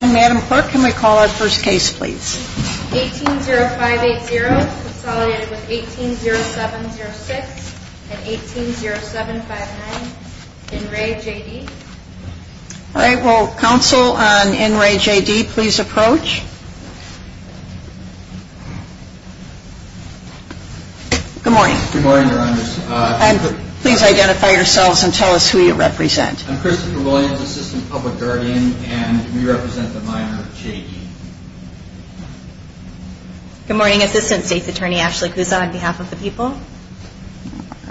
And Madam Clerk, can we call our first case please? 18-0580 consolidated with 18-0706 and 18-0759 in re J.D. All right. Will counsel on in re J.D. please approach? Good morning. Good morning, Your Honors. Please identify yourselves and tell us who you represent. I'm Christopher Williams, Assistant Public Guardian, and we represent the minor J.D. Good morning, Assistant State's Attorney Ashley Kuzak, on behalf of the people. All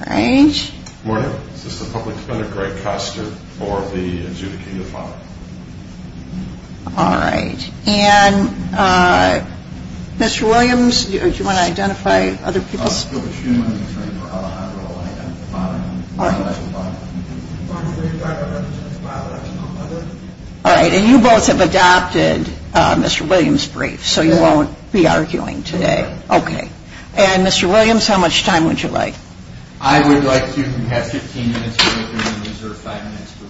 right. Good morning, Assistant Public Defender Greg Koster for the adjudicating of honor. All right. And Mr. Williams, do you want to identify other people? All right. And you both have adopted Mr. Williams' brief, so you won't be arguing today. Okay. And Mr. Williams, how much time would you like? I would like to have 15 minutes for review and reserve five minutes for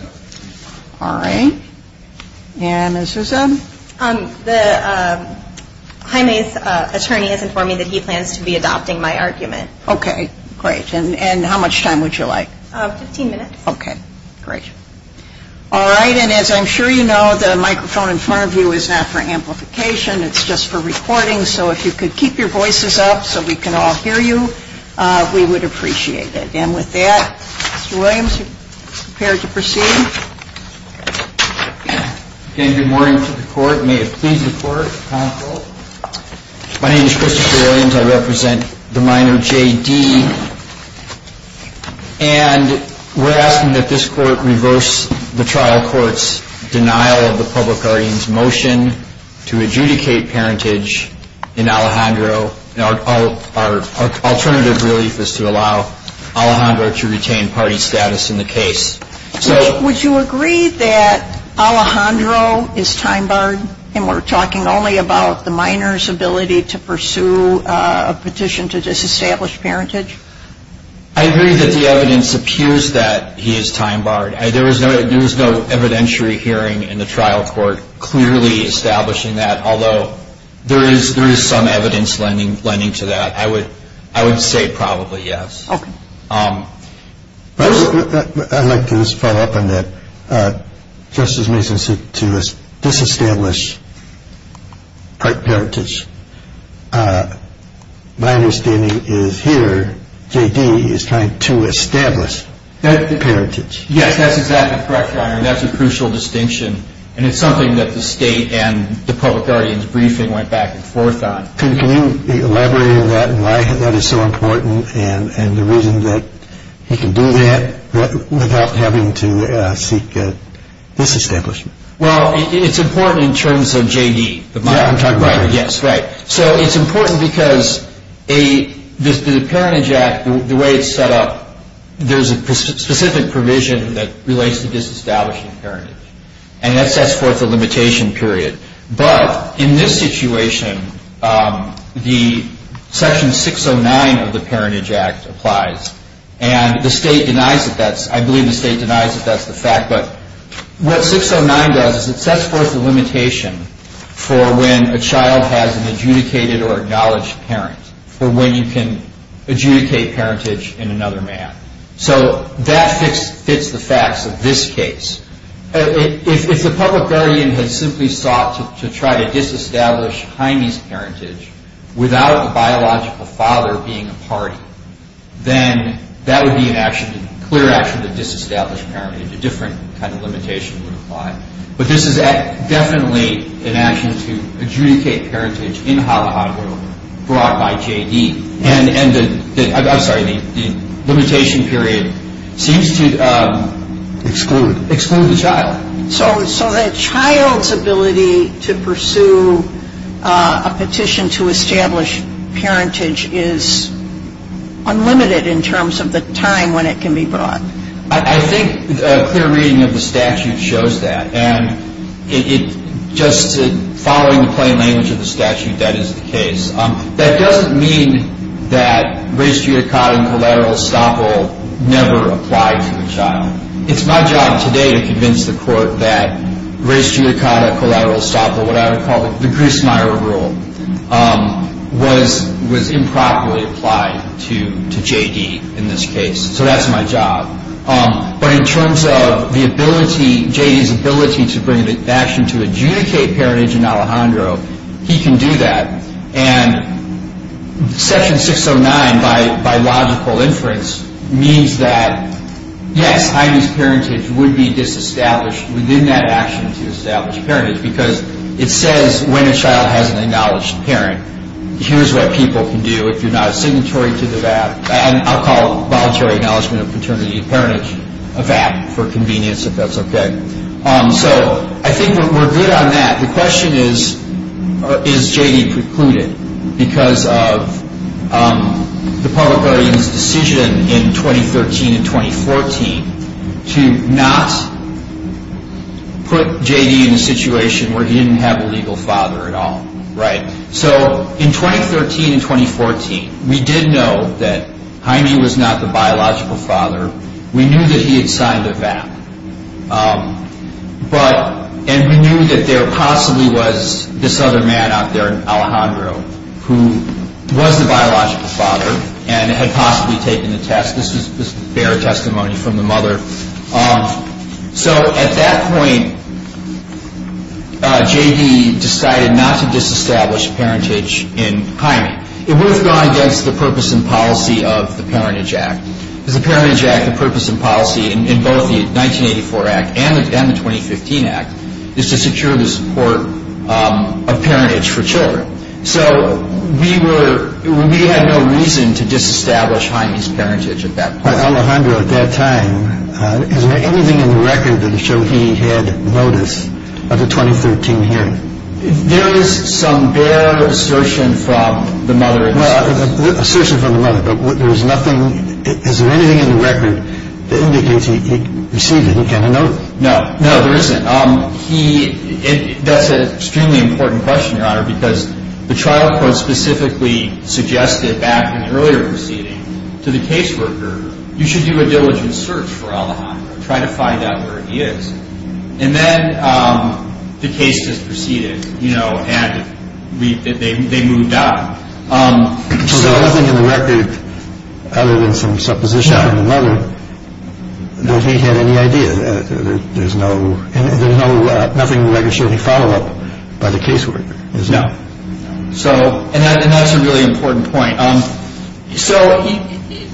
rebuttal. All right. And Ms. Rousseau? The High Maize attorney has informed me that he plans to be adopting my argument. Okay. Great. And how much time would you like? 15 minutes. Okay. Great. All right. And as I'm sure you know, the microphone in front of you is not for amplification. It's just for recording. So if you could keep your voices up so we can all hear you, we would appreciate it. And with that, Mr. Williams, are you prepared to proceed? Okay. Good morning to the Court. May it please the Court, counsel. My name is Christopher Williams. I represent the minor, J.D. And we're asking that this Court reverse the trial court's denial of the public guardian's motion to adjudicate parentage in Alejandro. Our alternative relief is to allow Alejandro to retain party status in the case. Would you agree that Alejandro is time-barred, and we're talking only about the minor's ability to pursue a petition to disestablish parentage? I agree that the evidence appears that he is time-barred. There was no evidentiary hearing in the trial court clearly establishing that, although there is some evidence lending to that. I would say probably yes. Okay. I'd like to just follow up on that. Justice Mason said to disestablish parentage. My understanding is here, J.D. is trying to establish parentage. Yes, that's exactly correct, Your Honor, and that's a crucial distinction. And it's something that the State and the public guardian's briefing went back and forth on. Can you elaborate on that and why that is so important and the reason that he can do that without having to seek disestablishment? Well, it's important in terms of J.D. Right. Yes, right. So it's important because the parentage act, the way it's set up, there's a specific provision that relates to disestablishing parentage, and that sets forth a limitation period. But in this situation, the section 609 of the parentage act applies, and the State denies it. I believe the State denies that that's the fact. But what 609 does is it sets forth a limitation for when a child has an adjudicated or acknowledged parent for when you can adjudicate parentage in another man. So that fits the facts of this case. If the public guardian had simply sought to try to disestablish Jaime's parentage without a biological father being a party, then that would be a clear action to disestablish parentage. A different kind of limitation would apply. But this is definitely an action to adjudicate parentage in Hollyhockville brought by J.D. I'm sorry. The limitation period seems to exclude the child. So the child's ability to pursue a petition to establish parentage is unlimited in terms of the time when it can be brought. I think a clear reading of the statute shows that. And just following the plain language of the statute, that is the case. That doesn't mean that res judicata collateral estoppel never applied to the child. It's my job today to convince the court that res judicata collateral estoppel, what I would call the Grissmeyer rule, was improperly applied to J.D. in this case. So that's my job. But in terms of the ability, J.D.'s ability to bring the action to adjudicate parentage in Alejandro, he can do that. And Section 609, by logical inference, means that, yes, I.D.'s parentage would be disestablished within that action to establish parentage because it says when a child has an acknowledged parent, here's what people can do. If you're not a signatory to the VAP, I'll call it Voluntary Acknowledgement of Paternity Parentage, a VAP, for convenience, if that's okay. So I think we're good on that. The question is, is J.D. precluded because of the public guardian's decision in 2013 and 2014 to not put J.D. in a situation where he didn't have a legal father at all, right? So in 2013 and 2014, we did know that Jaime was not the biological father. We knew that he had signed a VAP. And we knew that there possibly was this other man out there, Alejandro, who was the biological father and had possibly taken the test. This was bare testimony from the mother. So at that point, J.D. decided not to disestablish parentage in Jaime. It would have gone against the purpose and policy of the Parentage Act. The Parentage Act, the purpose and policy in both the 1984 Act and the 2015 Act is to secure the support of parentage for children. So we had no reason to disestablish Jaime's parentage at that point. Alejandro, at that time, is there anything in the record that showed he had notice of the 2013 hearing? There is some bare assertion from the mother. Well, assertion from the mother, but there is nothing – is there anything in the record that indicates he received it, he got a notice? No, no, there isn't. He – that's an extremely important question, Your Honor, because the trial court specifically suggested back in the earlier proceeding to the caseworker, you should do a diligent search for Alejandro, try to find out where he is. And then the case just proceeded, you know, and they moved on. So there's nothing in the record other than some supposition from the mother that he had any idea. There's no – there's no – nothing that I can show any follow-up by the caseworker, is there? No. So – and that's a really important point. So,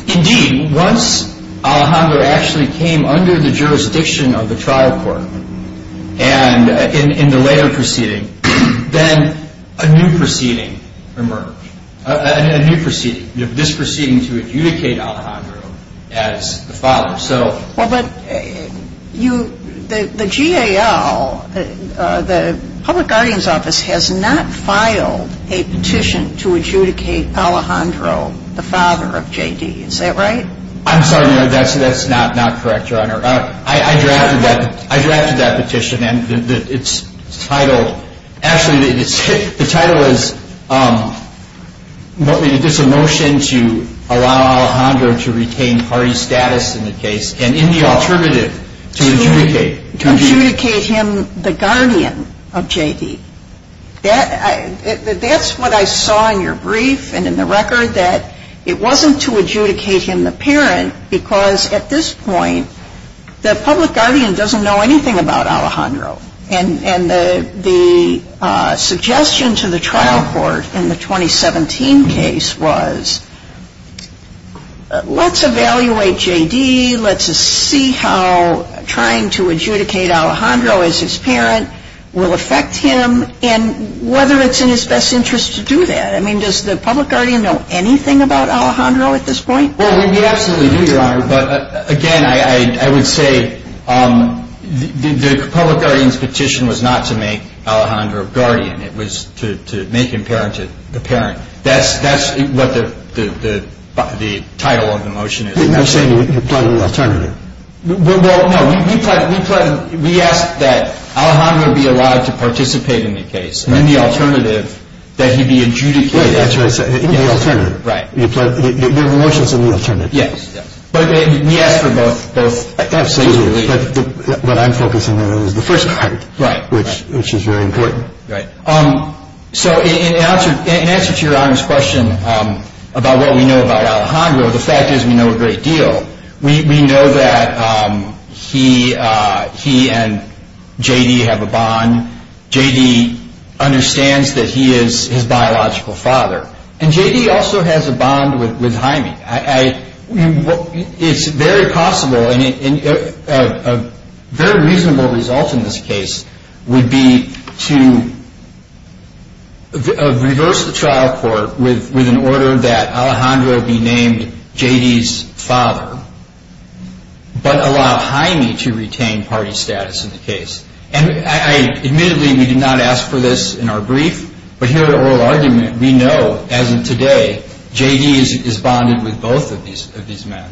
indeed, once Alejandro actually came under the jurisdiction of the trial court, and in the later proceeding, then a new proceeding emerged, a new proceeding, this proceeding to adjudicate Alejandro as the father. So – Well, but you – the GAL, the Public Guardian's Office, has not filed a petition to adjudicate Alejandro the father of J.D., is that right? I'm sorry, Your Honor, that's not correct, Your Honor. I drafted that – I drafted that petition, and its title – actually, the title is – there's a motion to allow Alejandro to retain party status in the case, and in the alternative, to adjudicate – To adjudicate him the guardian of J.D. That's what I saw in your brief and in the record, that it wasn't to adjudicate him the parent, because at this point, the Public Guardian doesn't know anything about Alejandro. And the suggestion to the trial court in the 2017 case was, let's evaluate J.D., let's see how trying to adjudicate Alejandro as his parent will affect him, and whether it's in his best interest to do that. I mean, does the Public Guardian know anything about Alejandro at this point? Well, we absolutely do, Your Honor. But again, I would say the Public Guardian's petition was not to make Alejandro a guardian. It was to make him parent to the parent. That's what the title of the motion is. You're saying you're plotting an alternative. Well, no, we asked that Alejandro be allowed to participate in the case, and in the alternative, that he be adjudicated. That's what I said, in the alternative. Right. Your motion's in the alternative. Yes. But we asked for both. But I'm focusing on the first part, which is very important. Right. So in answer to Your Honor's question about what we know about Alejandro, the fact is we know a great deal. We know that he and J.D. have a bond. J.D. understands that he is his biological father. And J.D. also has a bond with Jaime. It's very possible, and a very reasonable result in this case, would be to reverse the trial court with an order that Alejandro be named J.D.'s father, but allow Jaime to retain party status in the case. And admittedly, we did not ask for this in our brief, but here at Oral Argument, we know, as of today, J.D. is bonded with both of these men.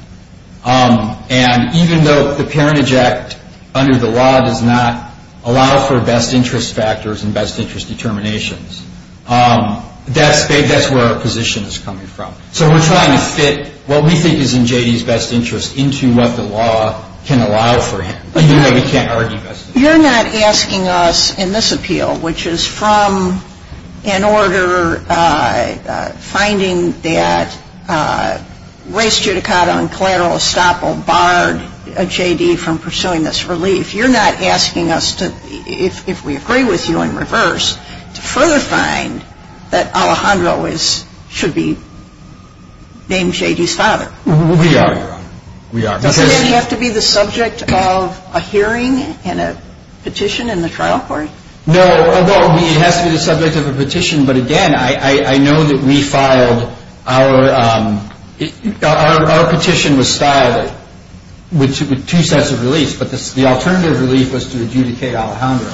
And even though the Parentage Act under the law does not allow for best interest factors and best interest determinations, that's where our position is coming from. So we're trying to fit what we think is in J.D.'s best interest into what the law can allow for him. We can't argue best interest. You're not asking us in this appeal, which is from an order finding that race judicata and collateral estoppel barred J.D. from pursuing this relief. You're not asking us to, if we agree with you in reverse, to further find that Alejandro should be named J.D.'s father. We are, Your Honor. Does it have to be the subject of a hearing and a petition in the trial court? No, it has to be the subject of a petition. But again, I know that we filed our petition was styled with two sets of reliefs, but the alternative relief was to adjudicate Alejandro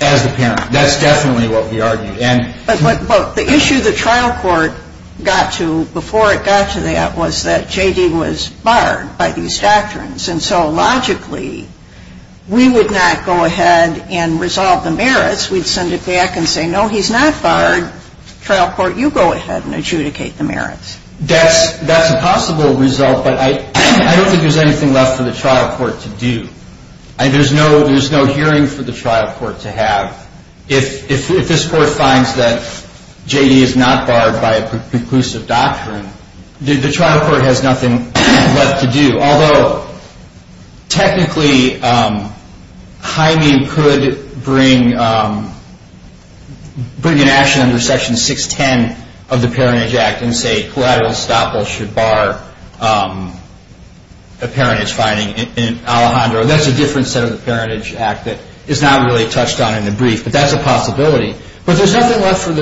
as the parent. That's definitely what we argued. But the issue the trial court got to before it got to that was that J.D. was barred by these doctrines. And so logically, we would not go ahead and resolve the merits. We'd send it back and say, no, he's not barred. Trial court, you go ahead and adjudicate the merits. That's a possible result, but I don't think there's anything left for the trial court to do. There's no hearing for the trial court to have. If this court finds that J.D. is not barred by a preclusive doctrine, the trial court has nothing left to do. Although, technically, Jaime could bring an action under Section 610 of the Parentage Act and say collateral estoppel should bar a parentage finding in Alejandro. That's a different set of the Parentage Act that is not really touched on in the brief, but that's a possibility. But there's nothing left for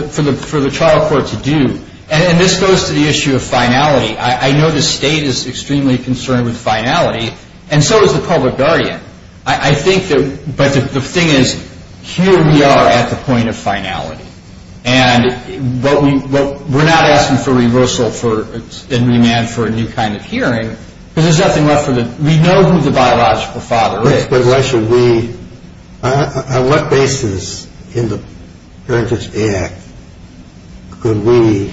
the trial court to do. And this goes to the issue of finality. I know the state is extremely concerned with finality, and so is the public guardian. But the thing is, here we are at the point of finality. And we're not asking for reversal and remand for a new kind of hearing, because there's nothing left for the – we know who the biological father is. But why should we – on what basis in the Parentage Act could we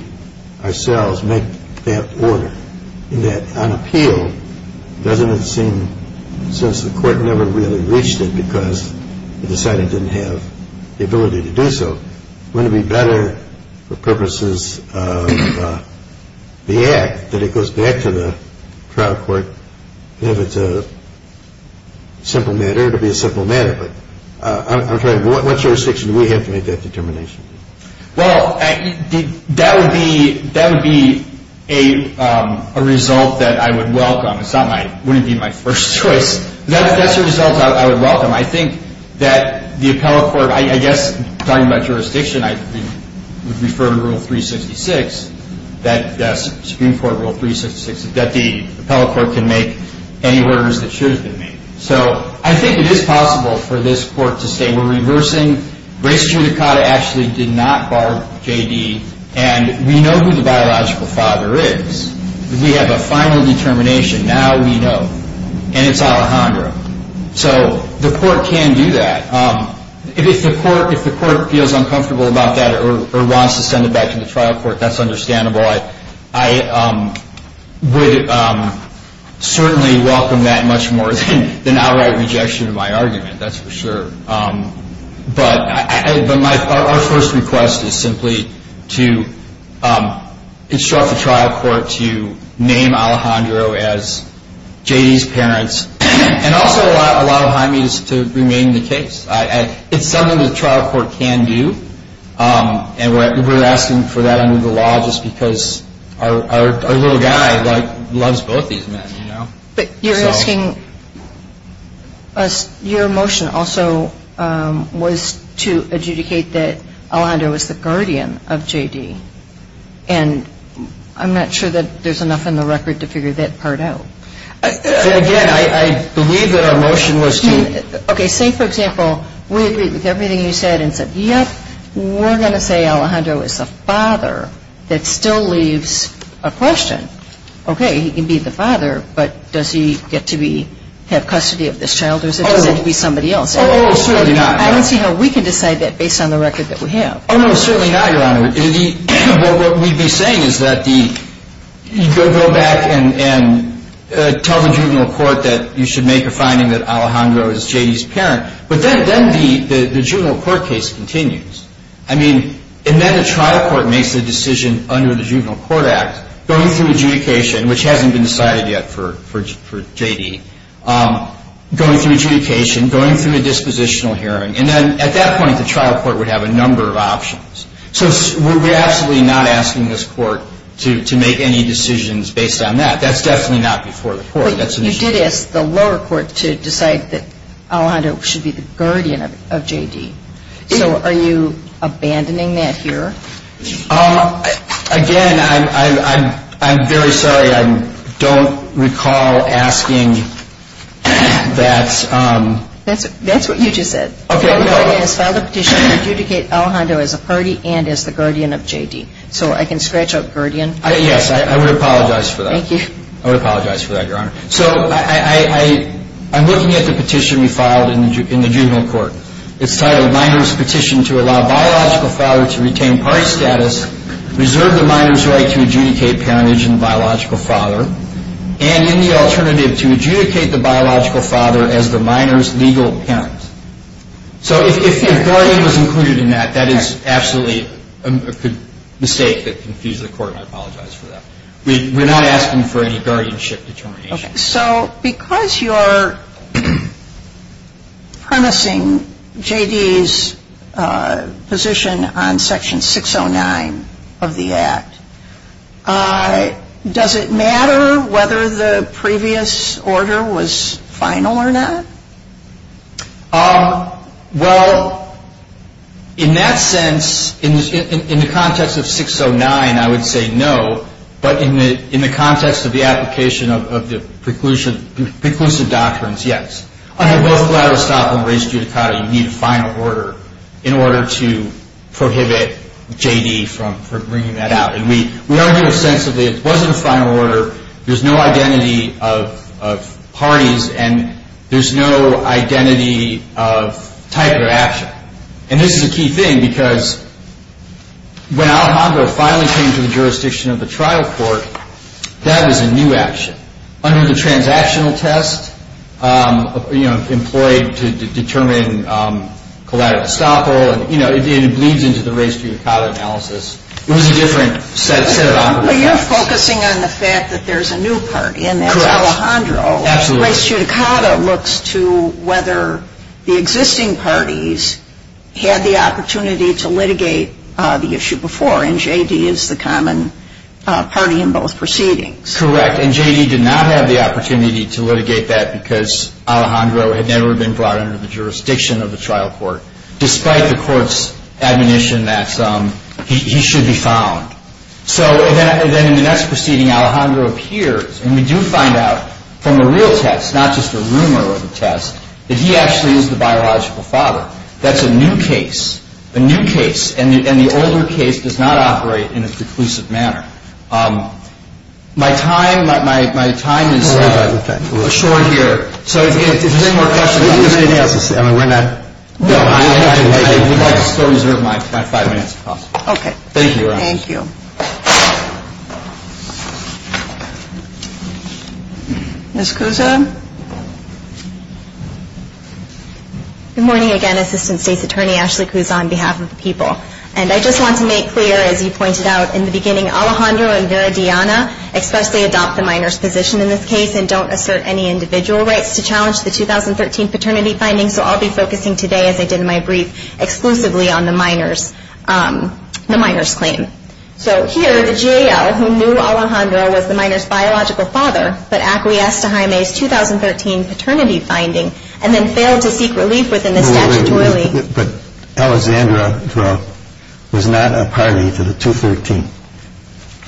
ourselves make that order? In that, on appeal, doesn't it seem, since the court never really reached it because it decided it didn't have the ability to do so, wouldn't it be better for purposes of the Act that it goes back to the trial court? If it's a simple matter, it'll be a simple matter. But I'm trying – what jurisdiction do we have to make that determination? Well, that would be a result that I would welcome. It's not my – it wouldn't be my first choice. That's a result I would welcome. I think that the appellate court – I guess talking about jurisdiction, I would refer to Rule 366, that Supreme Court Rule 366, that the appellate court can make any orders that should have been made. So I think it is possible for this court to say we're reversing. Grace Judicata actually did not bar J.D. And we know who the biological father is. We have a final determination. Now we know. And it's Alejandro. So the court can do that. If the court feels uncomfortable about that or wants to send it back to the trial court, that's understandable. I would certainly welcome that much more than outright rejection of my argument. That's for sure. But our first request is simply to instruct the trial court to name Alejandro as J.D.'s parents and also allow Jaime to remain the case. It's something the trial court can do. And we're asking for that under the law just because our little guy loves both these men, you know. But you're asking – your motion also was to adjudicate that Alejandro was the guardian of J.D. And I'm not sure that there's enough in the record to figure that part out. Then again, I believe that our motion was to – Okay. Say, for example, we agree with everything you said and said, yep, we're going to say Alejandro is a father that still leaves a question. Okay. He can be the father, but does he get to be – have custody of this child or does it have to be somebody else? Oh, certainly not. I don't see how we can decide that based on the record that we have. Oh, no. Certainly not, Your Honor. What we'd be saying is that the – go back and tell the juvenile court that you should make a finding that Alejandro is J.D.'s parent. But then the juvenile court case continues. I mean, and then the trial court makes the decision under the Juvenile Court Act, going through adjudication, which hasn't been decided yet for J.D., going through adjudication, going through a dispositional hearing. And then at that point, the trial court would have a number of options. So we're absolutely not asking this court to make any decisions based on that. That's definitely not before the court. That's an issue. But you did ask the lower court to decide that Alejandro should be the guardian of J.D. So are you abandoning that here? Again, I'm very sorry. I don't recall asking that. That's what you just said. The lower court has filed a petition to adjudicate Alejandro as a party and as the guardian of J.D. So I can scratch out guardian. Yes, I would apologize for that. Thank you. I would apologize for that, Your Honor. So I'm looking at the petition we filed in the juvenile court. It's titled, Miner's Petition to Allow Biological Father to Retain Party Status, Reserve the Miner's Right to Adjudicate Parentage and Biological Father, and in the alternative to adjudicate the biological father as the miner's legal parent. So if guardian was included in that, that is absolutely a mistake that confused the court. I apologize for that. We're not asking for any guardianship determination. Okay. So because you're permissing J.D.'s position on Section 609 of the Act, does it matter whether the previous order was final or not? Well, in that sense, in the context of 609, I would say no. But in the context of the application of the preclusive doctrines, yes. Under both Gladlestock and race judicata, you need a final order in order to prohibit J.D. from bringing that out. And we argue ostensibly it wasn't a final order. There's no identity of parties, and there's no identity of type of action. And this is a key thing because when Alejandro finally came to the jurisdiction of the trial court, that was a new action. Under the transactional test, you know, employed to determine Gladlestock, you know, it bleeds into the race judicata analysis. It was a different set of operations. Well, you're focusing on the fact that there's a new party, and that's Alejandro. Absolutely. The race judicata looks to whether the existing parties had the opportunity to litigate the issue before, and J.D. is the common party in both proceedings. Correct. And J.D. did not have the opportunity to litigate that because Alejandro had never been brought under the jurisdiction of the trial court, despite the court's admonition that he should be found. So then in the next proceeding, Alejandro appears, and we do find out from the real test, not just a rumor or the test, that he actually is the biological father. That's a new case, a new case, and the older case does not operate in a preclusive manner. My time, my time is short here. So if there's any more questions. If there's anything else to say, we're not. No, I would like to still reserve my five minutes if possible. Okay. Thank you, Your Honor. Thank you. Ms. Cusa? Good morning again, Assistant State's Attorney Ashley Cusa, on behalf of the people. And I just want to make clear, as you pointed out in the beginning, Alejandro and Vera Diana expressly adopt the minor's position in this case and don't assert any individual rights to challenge the 2013 paternity findings. And so I'll be focusing today, as I did in my brief, exclusively on the minor's claim. So here, the GAO, who knew Alejandro was the minor's biological father, but acquiesced to Jaime's 2013 paternity finding and then failed to seek relief within the statutory. But Alexandra was not a party to the 2013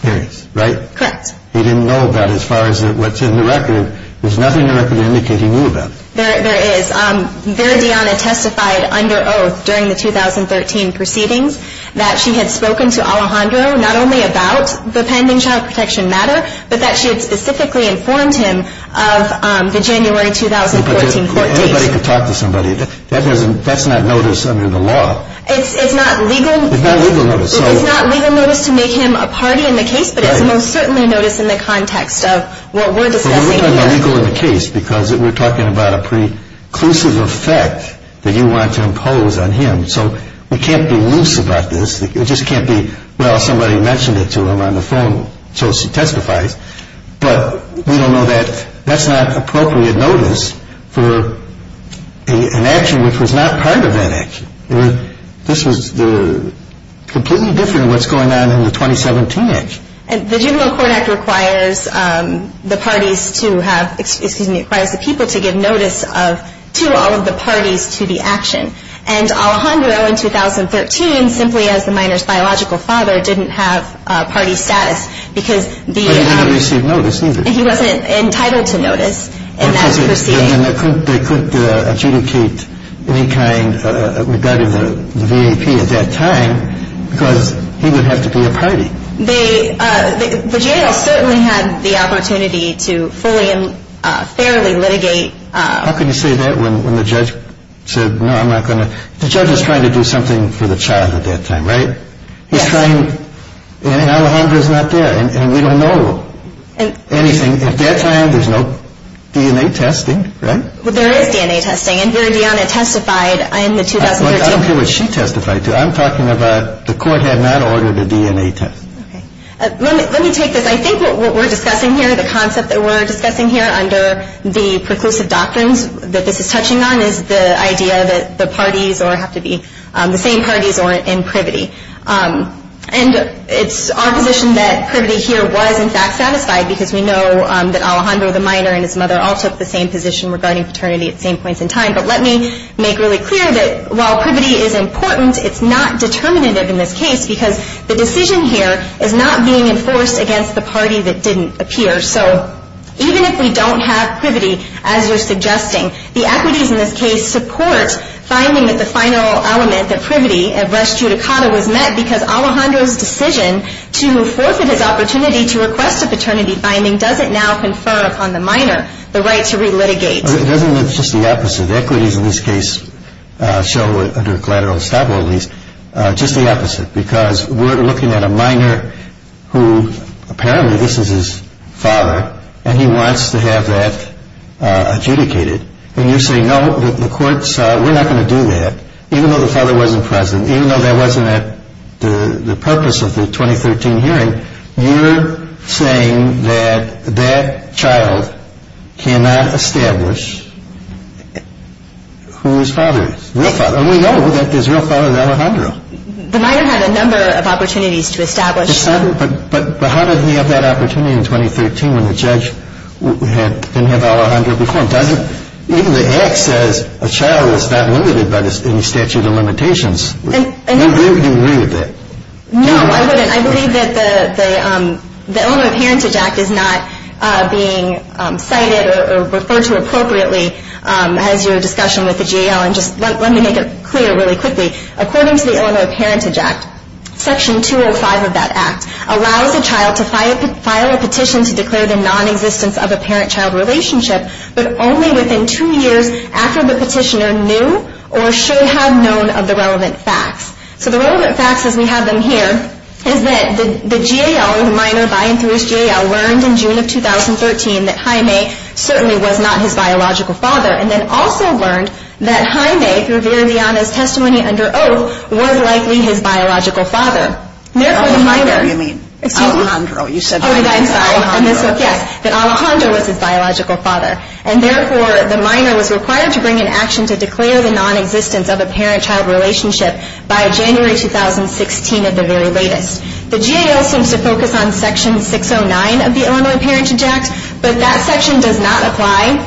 hearings, right? Correct. He didn't know about it as far as what's in the record. There's nothing in the record to indicate he knew about it. There is. Vera Diana testified under oath during the 2013 proceedings that she had spoken to Alejandro not only about the pending child protection matter, but that she had specifically informed him of the January 2014 court date. Everybody could talk to somebody. That's not notice under the law. It's not legal. It's not legal notice. It's not legal notice to make him a party in the case, but it's most certainly notice in the context of what we're discussing here. Well, we're talking about legal in the case because we're talking about a preclusive effect that you want to impose on him. So we can't be loose about this. It just can't be, well, somebody mentioned it to him on the phone, so she testifies. But we don't know that that's not appropriate notice for an action which was not part of that action. This was completely different than what's going on in the 2017 act. The general court act requires the parties to have, excuse me, it requires the people to give notice to all of the parties to the action. And Alejandro in 2013, simply as the minor's biological father, didn't have party status because the- He didn't receive notice either. He wasn't entitled to notice in that proceeding. They couldn't adjudicate any kind regarding the VAP at that time because he would have to be a party. The jail certainly had the opportunity to fully and fairly litigate- How can you say that when the judge said, no, I'm not going to- The judge is trying to do something for the child at that time, right? Yes. He's trying, and Alejandro's not there, and we don't know anything at that time. There's no DNA testing, right? There is DNA testing, and Veridiana testified in the 2013- I don't care what she testified to. I'm talking about the court had not ordered a DNA test. Okay. Let me take this. I think what we're discussing here, the concept that we're discussing here under the preclusive doctrines that this is touching on, is the idea that the parties have to be the same parties or in privity. And it's our position that privity here was, in fact, satisfied because we know that Alejandro, the minor, and his mother all took the same position regarding paternity at the same points in time. But let me make really clear that while privity is important, it's not determinative in this case because the decision here is not being enforced against the party that didn't appear. So even if we don't have privity, as you're suggesting, the equities in this case support finding that the final element, the privity, of res judicata was met because Alejandro's decision to forfeit his opportunity to request a paternity finding doesn't now confer upon the minor the right to relitigate. It doesn't. It's just the opposite. Equities in this case show, under collateral estoppel at least, just the opposite because we're looking at a minor who apparently this is his father and he wants to have that adjudicated. And you say, no, the court's, we're not going to do that, even though the father wasn't present, even though that wasn't the purpose of the 2013 hearing. You're saying that that child cannot establish who his father is, real father. And we know that his real father is Alejandro. The minor had a number of opportunities to establish that. But how did he have that opportunity in 2013 when the judge didn't have Alejandro before him? Even the act says a child is not limited by any statute of limitations. Do you agree with that? No, I wouldn't. I believe that the Illinois Parentage Act is not being cited or referred to appropriately as your discussion with the GAL. And just let me make it clear really quickly. According to the Illinois Parentage Act, Section 205 of that act allows a child to file a petition to declare the nonexistence of a parent-child relationship but only within two years after the petitioner knew or should have known of the relevant facts. So the relevant facts, as we have them here, is that the GAL, the minor by and through his GAL, learned in June of 2013 that Jaime certainly was not his biological father and then also learned that Jaime, through Viridiana's testimony under oath, was likely his biological father. Alejandro, you mean. Excuse me. Alejandro, you said Jaime. Yes, that Alejandro was his biological father. And therefore, the minor was required to bring an action to declare the nonexistence of a parent-child relationship by January 2016 at the very latest. The GAL seems to focus on Section 609 of the Illinois Parentage Act, but that section does not apply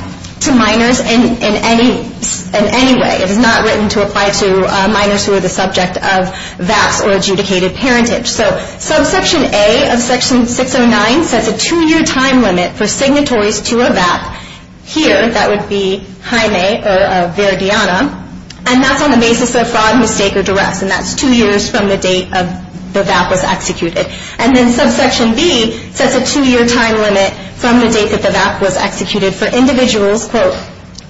to minors in any way. It is not written to apply to minors who are the subject of VAPs or adjudicated parentage. So Subsection A of Section 609 sets a two-year time limit for signatories to a VAP. Here, that would be Jaime or Viridiana. And that's on the basis of fraud, mistake, or duress, and that's two years from the date the VAP was executed. And then Subsection B sets a two-year time limit from the date that the VAP was executed for individuals, quote,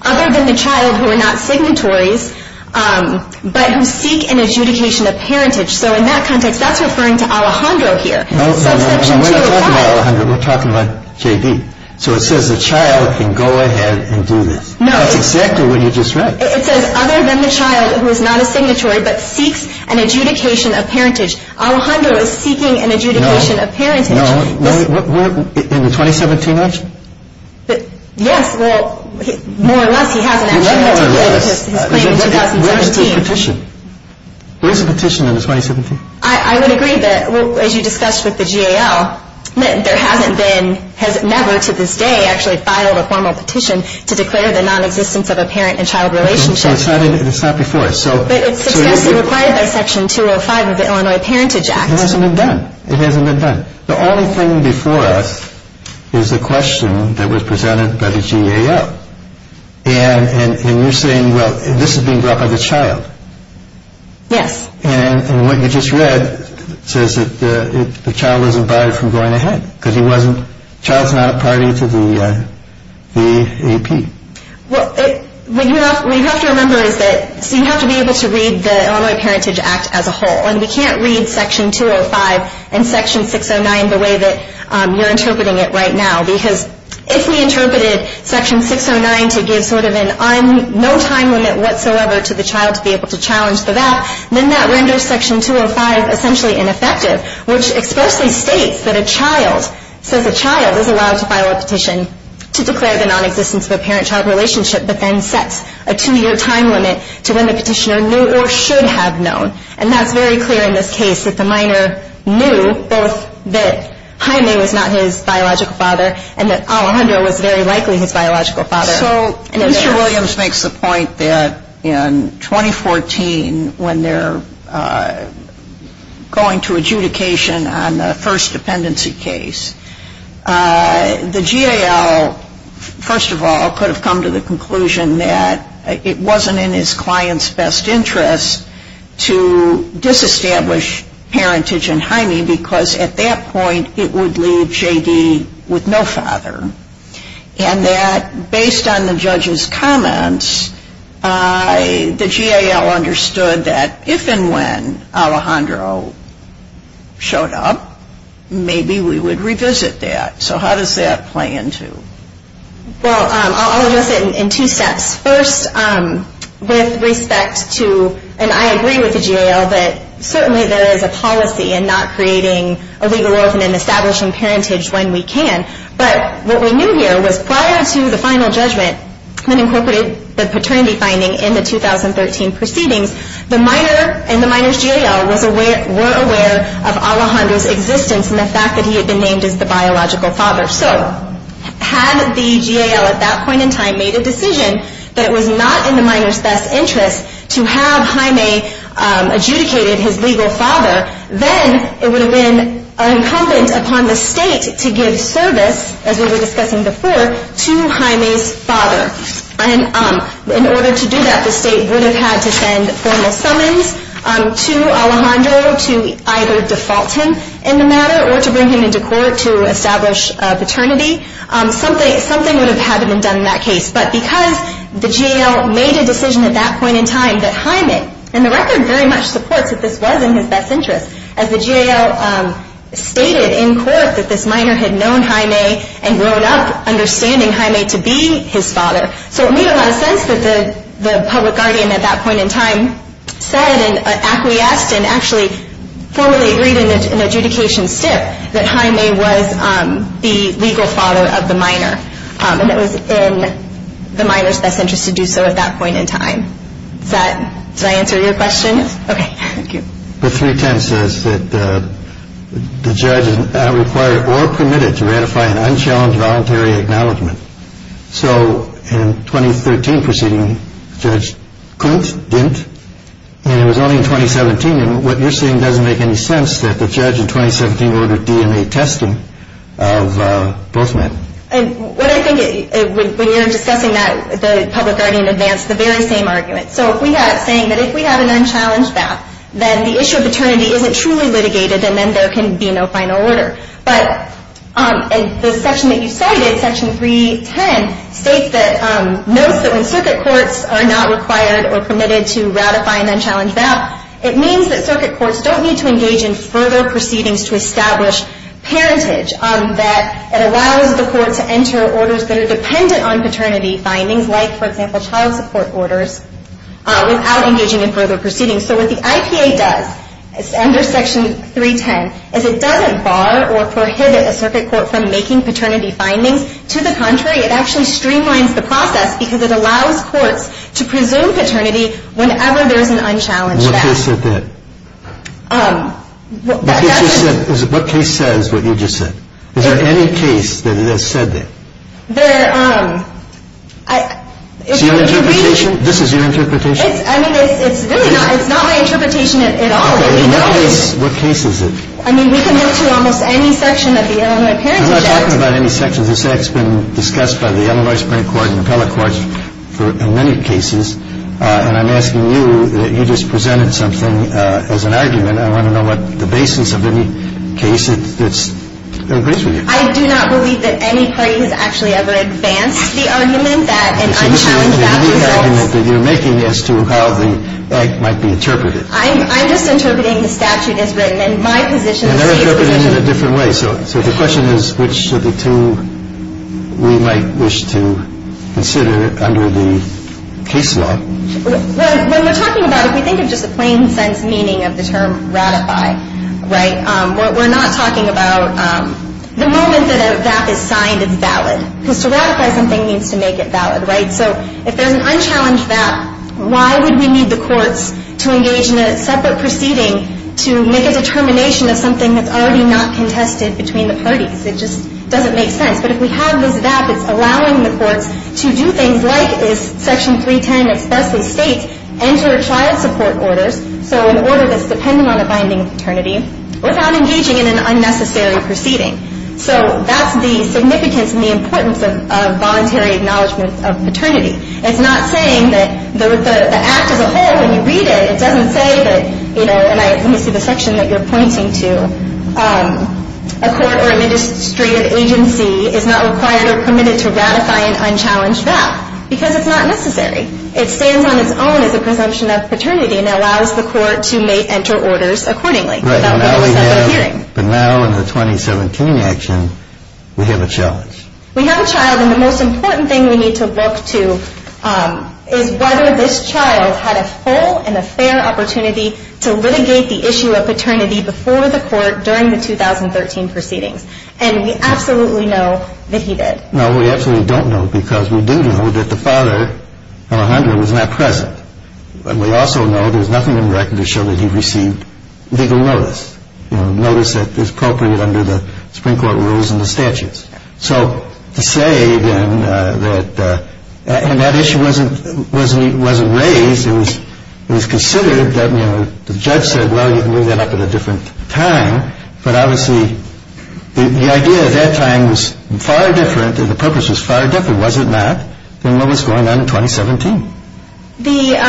other than the child who are not signatories but who seek an adjudication of parentage. So in that context, that's referring to Alejandro here. No, no, no. When we're talking about Alejandro, we're talking about J.D. So it says the child can go ahead and do this. No. That's exactly what you just read. It says, other than the child who is not a signatory but seeks an adjudication of parentage. Alejandro is seeking an adjudication of parentage. No. In the 2017 election? Yes. Well, more or less, he has an adjudication. More or less. His claim in 2017. Where's the petition? Where's the petition in the 2017? I would agree that, as you discussed with the GAL, there hasn't been, never to this day, actually filed a formal petition to declare the nonexistence of a parent and child relationship. It's not before us. But it's required by Section 205 of the Illinois Parentage Act. It hasn't been done. It hasn't been done. The only thing before us is the question that was presented by the GAL. And you're saying, well, this is being brought by the child. Yes. And what you just read says that the child wasn't barred from going ahead because the child is not a priority to the AP. What you have to remember is that you have to be able to read the Illinois Parentage Act as a whole. And we can't read Section 205 and Section 609 the way that you're interpreting it right now because if we interpreted Section 609 to give sort of no time limit whatsoever to the child to be able to challenge the VAP, then that renders Section 205 essentially ineffective, which expressly states that a child says a child is allowed to file a petition to declare the nonexistence of a parent-child relationship but then sets a two-year time limit to when the petitioner knew or should have known. And that's very clear in this case that the minor knew both that Jaime was not his biological father and that Alejandro was very likely his biological father. So Mr. Williams makes the point that in 2014 when they're going to adjudication on the first dependency case, the GAL, first of all, could have come to the conclusion that it wasn't in his client's best interest to disestablish parentage in Jaime because at that point it would leave JD with no father. And that based on the judge's comments, the GAL understood that if and when Alejandro showed up, maybe we would revisit that. So how does that play into? Well, I'll address it in two steps. First, with respect to, and I agree with the GAL, that certainly there is a policy in not creating a legal orphan and establishing parentage when we can. But what we knew here was prior to the final judgment that incorporated the paternity finding in the 2013 proceedings, the minor and the minor's GAL were aware of Alejandro's existence and the fact that he had been named as the biological father. So had the GAL at that point in time made a decision that it was not in the minor's best interest to have Jaime adjudicated his legal father, then it would have been incumbent upon the state to give service, as we were discussing before, to Jaime's father. And in order to do that, the state would have had to send formal summons to Alejandro to either default him in the matter or to bring him into court to establish paternity. Something would have had to have been done in that case. But because the GAL made a decision at that point in time that Jaime, and the record very much supports that this was in his best interest, as the GAL stated in court that this minor had known Jaime and grown up understanding Jaime to be his father. So it made a lot of sense that the public guardian at that point in time said and acquiesced and actually formally agreed in an adjudication stiff that Jaime was the legal father of the minor. And it was in the minor's best interest to do so at that point in time. Did I answer your question? Yes. Okay, thank you. But 310 says that the judge is not required or permitted to ratify an unchallenged voluntary acknowledgement. So in 2013 proceeding, Judge Kunt didn't. And it was only in 2017. And what you're saying doesn't make any sense that the judge in 2017 ordered DNA testing of both men. What I think, when you're discussing that, the public guardian advanced the very same argument. So if we have, saying that if we have an unchallenged BAP, then the issue of paternity isn't truly litigated and then there can be no final order. But the section that you cited, Section 310, states that, notes that when circuit courts are not required or permitted to ratify an unchallenged BAP, it means that circuit courts don't need to engage in further proceedings to establish parentage. That it allows the court to enter orders that are dependent on paternity findings, like, for example, child support orders, without engaging in further proceedings. So what the IPA does, under Section 310, is it doesn't bar or prohibit a circuit court from making paternity findings. To the contrary, it actually streamlines the process because it allows courts to presume paternity whenever there's an unchallenged BAP. What case said that? What case says what you just said? Is there any case that it has said that? There, um... Is your interpretation? This is your interpretation? I mean, it's really not. It's not my interpretation at all. In what case is it? I mean, we can move to almost any section of the Illinois Parentage Act. I'm not talking about any sections. This Act's been discussed by the Illinois Parent Court and the appellate courts in many cases. And I'm asking you that you just presented something as an argument. I want to know what the basis of any case that agrees with you. I do not believe that any party has actually ever advanced the argument that an unchallenged BAP results. So this is the argument that you're making as to how the Act might be interpreted. I'm just interpreting the statute as written. And my position is that it's a position... And they're interpreting it in a different way. So the question is which of the two we might wish to consider under the case law. When we're talking about it, if we think of just the plain sense meaning of the term ratify, right, we're not talking about the moment that a BAP is signed as valid. Because to ratify something means to make it valid, right? So if there's an unchallenged BAP, why would we need the courts to engage in a separate proceeding to make a determination of something that's already not contested between the parties? It just doesn't make sense. But if we have this BAP, it's allowing the courts to do things like, as Section 310 expressly states, enter child support orders, so an order that's dependent on a binding paternity, without engaging in an unnecessary proceeding. So that's the significance and the importance of voluntary acknowledgement of paternity. It's not saying that the Act as a whole, when you read it, it doesn't say that, you know, and I see the section that you're pointing to, a court or administrative agency is not required or permitted to ratify an unchallenged BAP. Because it's not necessary. It stands on its own as a presumption of paternity and allows the court to make, enter orders accordingly without being a separate hearing. But now in the 2017 action, we have a challenge. We have a child, and the most important thing we need to look to is whether this child had a whole and a fair opportunity to litigate the issue of paternity before the court during the 2013 proceedings. And we absolutely know that he did. No, we absolutely don't know, because we do know that the father, Alejandro, was not present. And we also know there's nothing in the record to show that he received legal notice, you know, notice that is appropriate under the Supreme Court rules and the statutes. So to say then that, and that issue wasn't raised. It was considered that, you know, the judge said, well, you can move that up at a different time. But obviously, the idea at that time was far different and the purpose was far different, was it not, than what was going on in 2017. The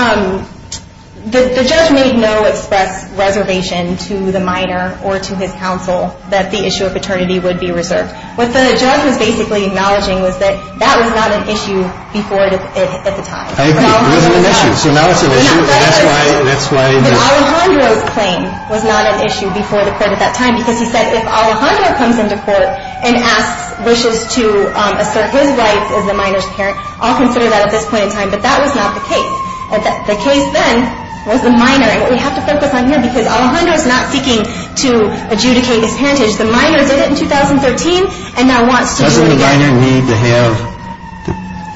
judge made no express reservation to the minor or to his counsel that the issue of paternity would be reserved. What the judge was basically acknowledging was that that was not an issue before at the time. So now it's an issue, and that's why. But Alejandro's claim was not an issue before the court at that time, because he said if Alejandro comes into court and asks, wishes to assert his rights as the minor's parent, I'll consider that at this point in time. But that was not the case. The case then was the minor, and what we have to focus on here, because Alejandro's not seeking to adjudicate his parentage. The minor did it in 2013 and now wants to do it again. Does the minor need to have the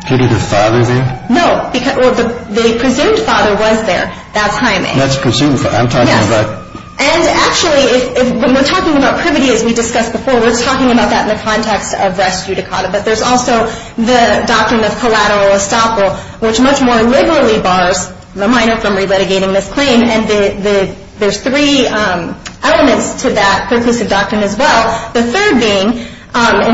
privative father there? No. Well, the presumed father was there that time. That's presumed. I'm talking about. Yes. And actually, when we're talking about privity, as we discussed before, we're talking about that in the context of res judicata. But there's also the doctrine of collateral estoppel, which much more liberally bars the minor from re-litigating this claim. And there's three elements to that perclusive doctrine as well. The third being,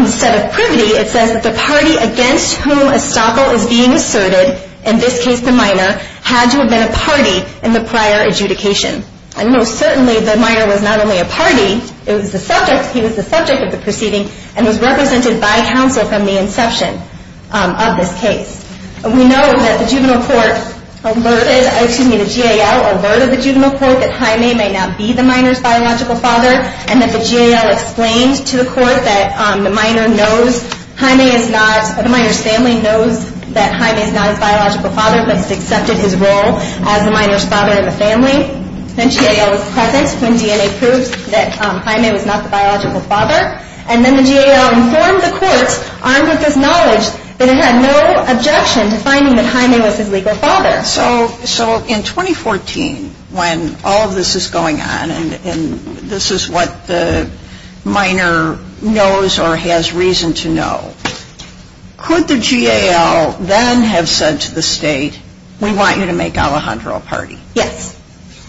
instead of privity, it says that the party against whom estoppel is being asserted, in this case the minor, had to have been a party in the prior adjudication. And most certainly the minor was not only a party, it was the subject. He was the subject of the proceeding and was represented by counsel from the inception of this case. We know that the juvenile court alerted, excuse me, the GAL alerted the juvenile court that Jaime may not be the minor's biological father and that the GAL explained to the court that the minor knows Jaime is not, the minor's family knows that Jaime is not his biological father, but has accepted his role as the minor's father in the family. And GAL was present when DNA proved that Jaime was not the biological father. And then the GAL informed the court, armed with this knowledge, that it had no objection to finding that Jaime was his legal father. So in 2014, when all of this is going on and this is what the minor knows or has reason to know, could the GAL then have said to the state, we want you to make Alejandro a party? Yes.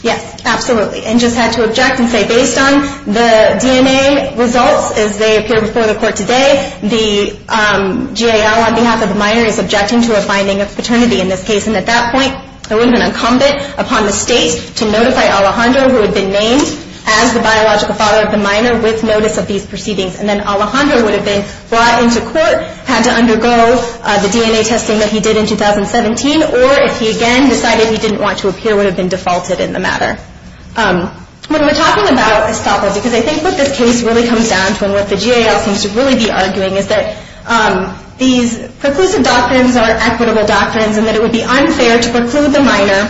Yes, absolutely. And just had to object and say, based on the DNA results as they appear before the court today, the GAL on behalf of the minor is objecting to a finding of paternity in this case. And at that point, there would have been an incumbent upon the state to notify Alejandro, who had been named as the biological father of the minor, with notice of these proceedings. And then Alejandro would have been brought into court, had to undergo the DNA testing that he did in 2017, or if he again decided he didn't want to appear, would have been defaulted in the matter. When we're talking about escapism, because I think what this case really comes down to and what the GAL seems to really be arguing is that these preclusive doctrines are equitable doctrines and that it would be unfair to preclude the minor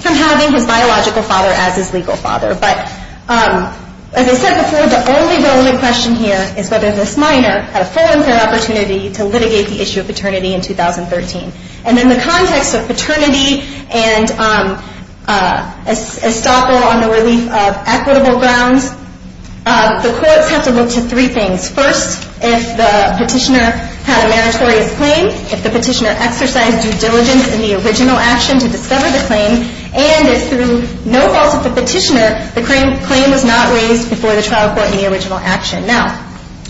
from having his biological father as his legal father. But as I said before, the only relevant question here is whether this minor had a full and fair opportunity to litigate the issue of paternity in 2013. And in the context of paternity and estoppel on the relief of equitable grounds, the courts have to look to three things. First, if the petitioner had a meritorious claim, if the petitioner exercised due diligence in the original action to discover the claim, and if through no fault of the petitioner, the claim was not raised before the trial court in the original action. Now,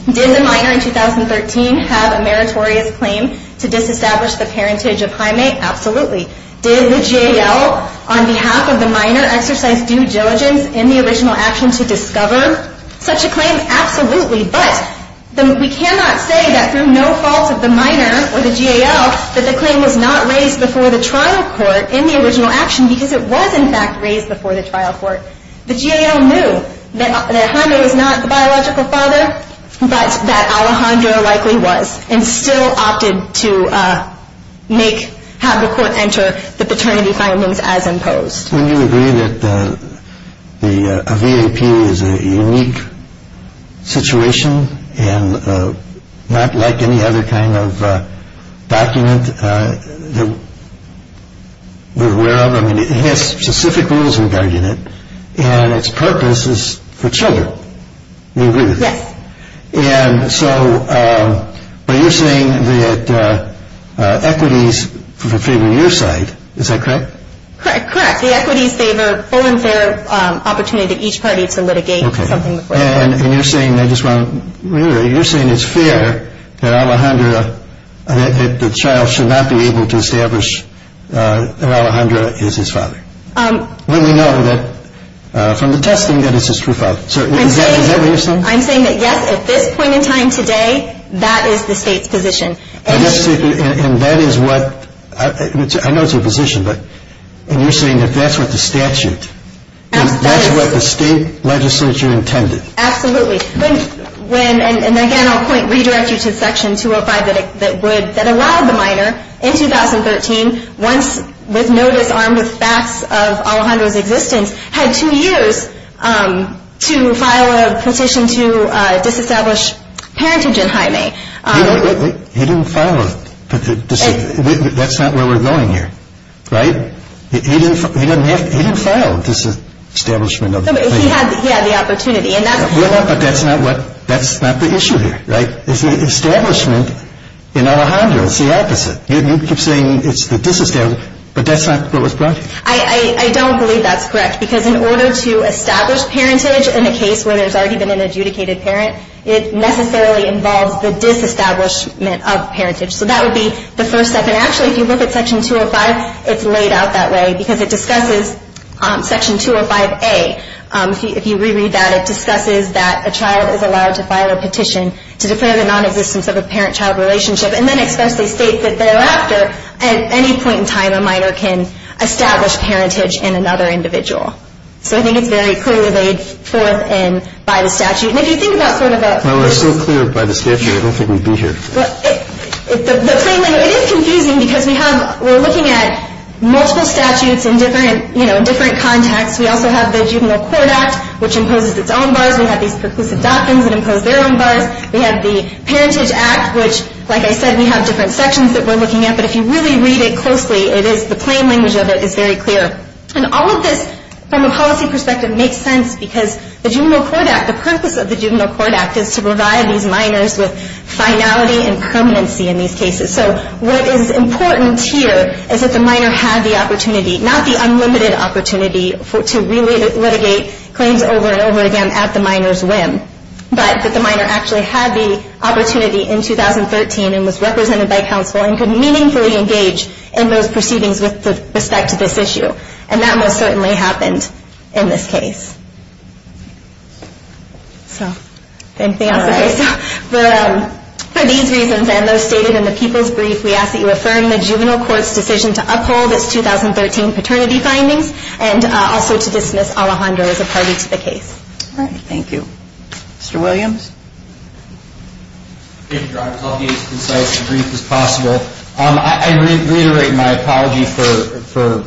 did the minor in 2013 have a meritorious claim to disestablish the parentage of Jaime? Absolutely. Did the GAL on behalf of the minor exercise due diligence in the original action to discover such a claim? Absolutely. But we cannot say that through no fault of the minor or the GAL that the claim was not raised before the trial court in the original action because it was in fact raised before the trial court. The GAL knew that Jaime was not the biological father, but that Alejandro likely was and still opted to have the court enter the paternity findings as imposed. And you agree that a V.A.P. is a unique situation and not like any other kind of document that we're aware of. I mean, it has specific rules regarding it, and its purpose is for children. You agree with that? Yes. And so, but you're saying that equities favor your side, is that correct? Correct. The equities favor full and fair opportunity to each party to litigate something before the court. And you're saying it's fair that Alejandro, that the child should not be able to establish that Alejandro is his father. When we know that from the testing that it's his true father. Is that what you're saying? I'm saying that yes, at this point in time today, that is the state's position. And that is what, I know it's your position, but you're saying that that's what the statute, that's what the state legislature intended. Absolutely. And again, I'll point, redirect you to Section 205 that would, that allowed the minor in 2013, once with notice armed with facts of Alejandro's existence, had two years to file a petition to disestablish parentage in Jaime. He didn't file a, that's not where we're going here. Right? He didn't file this establishment. No, but he had the opportunity. But that's not what, that's not the issue here. Right? Establishment in Alejandro is the opposite. You keep saying it's the disestablishment, but that's not what was brought here. I don't believe that's correct. Because in order to establish parentage in a case where there's already been an adjudicated parent, it necessarily involves the disestablishment of parentage. So that would be the first step. And actually, if you look at Section 205, it's laid out that way because it discusses Section 205A. If you reread that, it discusses that a child is allowed to file a petition to declare the nonexistence of a parent-child relationship and then expressly state that thereafter at any point in time a minor can establish parentage in another individual. So I think it's very clearly laid forth in, by the statute. And if you think about sort of a- Well, we're still clear by the statute. I don't think we'd be here. Well, the plain language, it is confusing because we have, we're looking at multiple statutes in different, you know, different contexts. We also have the Juvenile Court Act, which imposes its own bars. We have these preclusive doctrines that impose their own bars. We have the Parentage Act, which, like I said, we have different sections that we're looking at. But if you really read it closely, it is, the plain language of it is very clear. And all of this, from a policy perspective, makes sense because the Juvenile Court Act, the purpose of the Juvenile Court Act is to provide these minors with finality and permanency in these cases. So what is important here is that the minor had the opportunity, not the unlimited opportunity, to really litigate claims over and over again at the minor's whim, but that the minor actually had the opportunity in 2013 and was represented by counsel and could meaningfully engage in those proceedings with respect to this issue. And that most certainly happened in this case. So, anything else? All right. For these reasons and those stated in the People's Brief, we ask that you affirm the Juvenile Court's decision to uphold its 2013 paternity findings All right. Thank you. Mr. Williams? I'll be as concise and brief as possible. I reiterate my apology for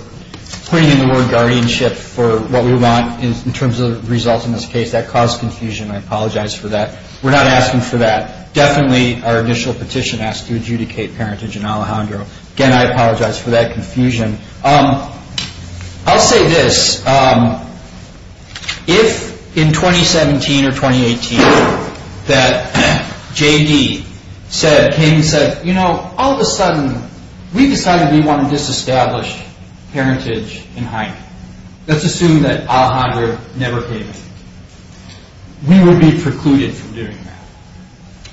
putting in the word guardianship for what we want in terms of results in this case. That caused confusion. I apologize for that. We're not asking for that. Definitely our initial petition asked to adjudicate parentage in Alejandro. Again, I apologize for that confusion. I'll say this. If in 2017 or 2018 that J.D. came and said, you know, all of a sudden we decided we want to disestablish parentage in Jaime. Let's assume that Alejandro never came in. We would be precluded from doing that.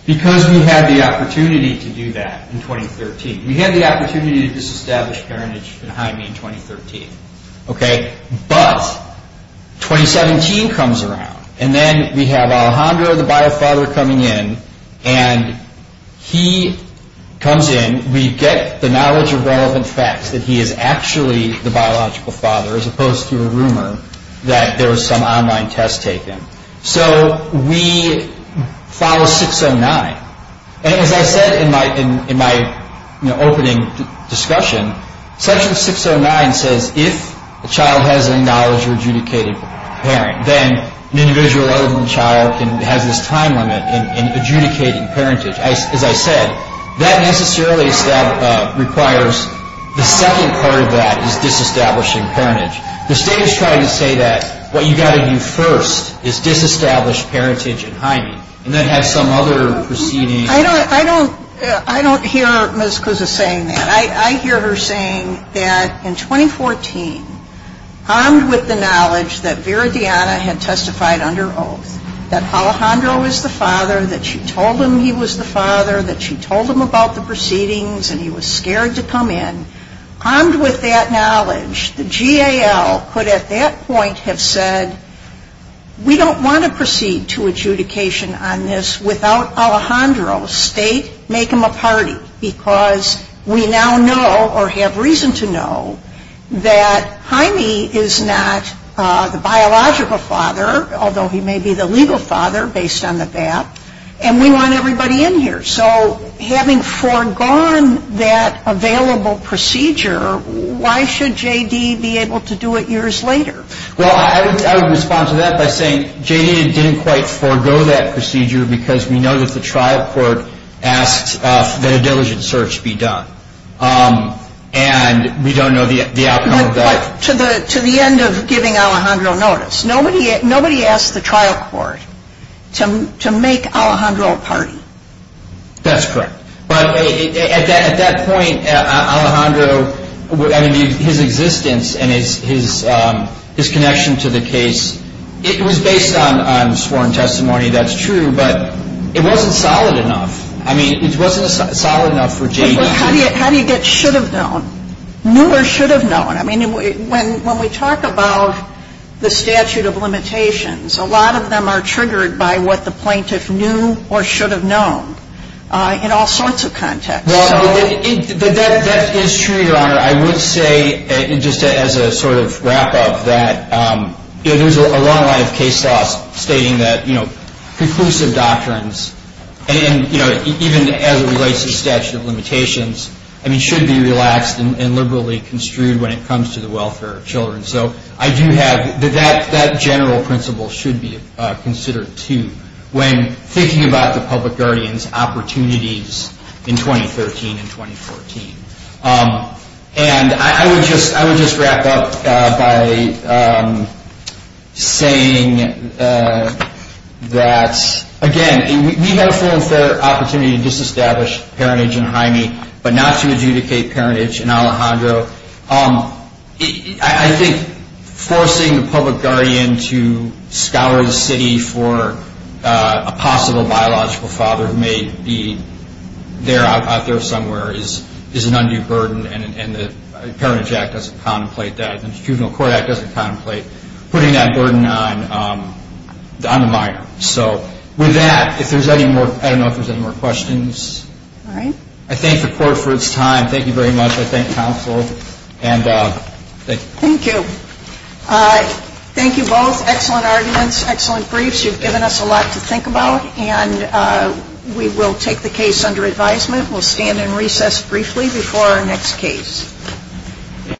Because we had the opportunity to do that in 2013. We had the opportunity to disestablish parentage in Jaime in 2013. Okay? But 2017 comes around. And then we have Alejandro, the biofather, coming in. And he comes in. We get the knowledge of relevant facts that he is actually the biological father, as opposed to a rumor that there was some online test taken. So we follow 609. And as I said in my opening discussion, section 609 says, if a child has an acknowledged or adjudicated parent, then an individual other than the child has this time limit in adjudicating parentage. As I said, that necessarily requires the second part of that is disestablishing parentage. The state is trying to say that what you've got to do first is disestablish parentage in Jaime and then have some other proceeding. I don't hear Ms. Cusa saying that. I hear her saying that in 2014, armed with the knowledge that Vera Diana had testified under oath, that Alejandro is the father, that she told him he was the father, that she told him about the proceedings and he was scared to come in, armed with that knowledge, the GAL could at that point have said, we don't want to proceed to adjudication on this without Alejandro. State, make him a party. Because we now know or have reason to know that Jaime is not the biological father, although he may be the legal father based on the fact. And we want everybody in here. So having foregone that available procedure, why should JD be able to do it years later? Well, I would respond to that by saying JD didn't quite forego that procedure because we know that the trial court asked that a diligent search be done. And we don't know the outcome of that. But to the end of giving Alejandro notice, nobody asked the trial court to make Alejandro a party. That's correct. But at that point, Alejandro, I mean, his existence and his connection to the case, it was based on sworn testimony. That's true. But it wasn't solid enough. I mean, it wasn't solid enough for JD to be. How do you get should have known, knew or should have known? I mean, when we talk about the statute of limitations, a lot of them are triggered by what the plaintiff knew or should have known. In all sorts of contexts. Well, that is true, Your Honor. I would say, just as a sort of wrap-up, that there's a long line of case laws stating that conclusive doctrines, and even as it relates to statute of limitations, I mean, should be relaxed and liberally construed when it comes to the welfare of children. So I do have, that general principle should be considered too. When thinking about the public guardian's opportunities in 2013 and 2014. And I would just wrap up by saying that, again, we have a full and fair opportunity to disestablish parentage in Jaime, but not to adjudicate parentage in Alejandro. I think forcing the public guardian to scour the city for a possible biological father who may be out there somewhere is an undue burden. And the Parentage Act doesn't contemplate that. The Institutional Court Act doesn't contemplate putting that burden on a minor. So with that, if there's any more, I don't know if there's any more questions. All right. I thank the Court for its time. Thank you very much. I thank counsel. And thank you. Thank you. Thank you both. Excellent arguments. Excellent briefs. You've given us a lot to think about. And we will take the case under advisement. We'll stand and recess briefly before our next case.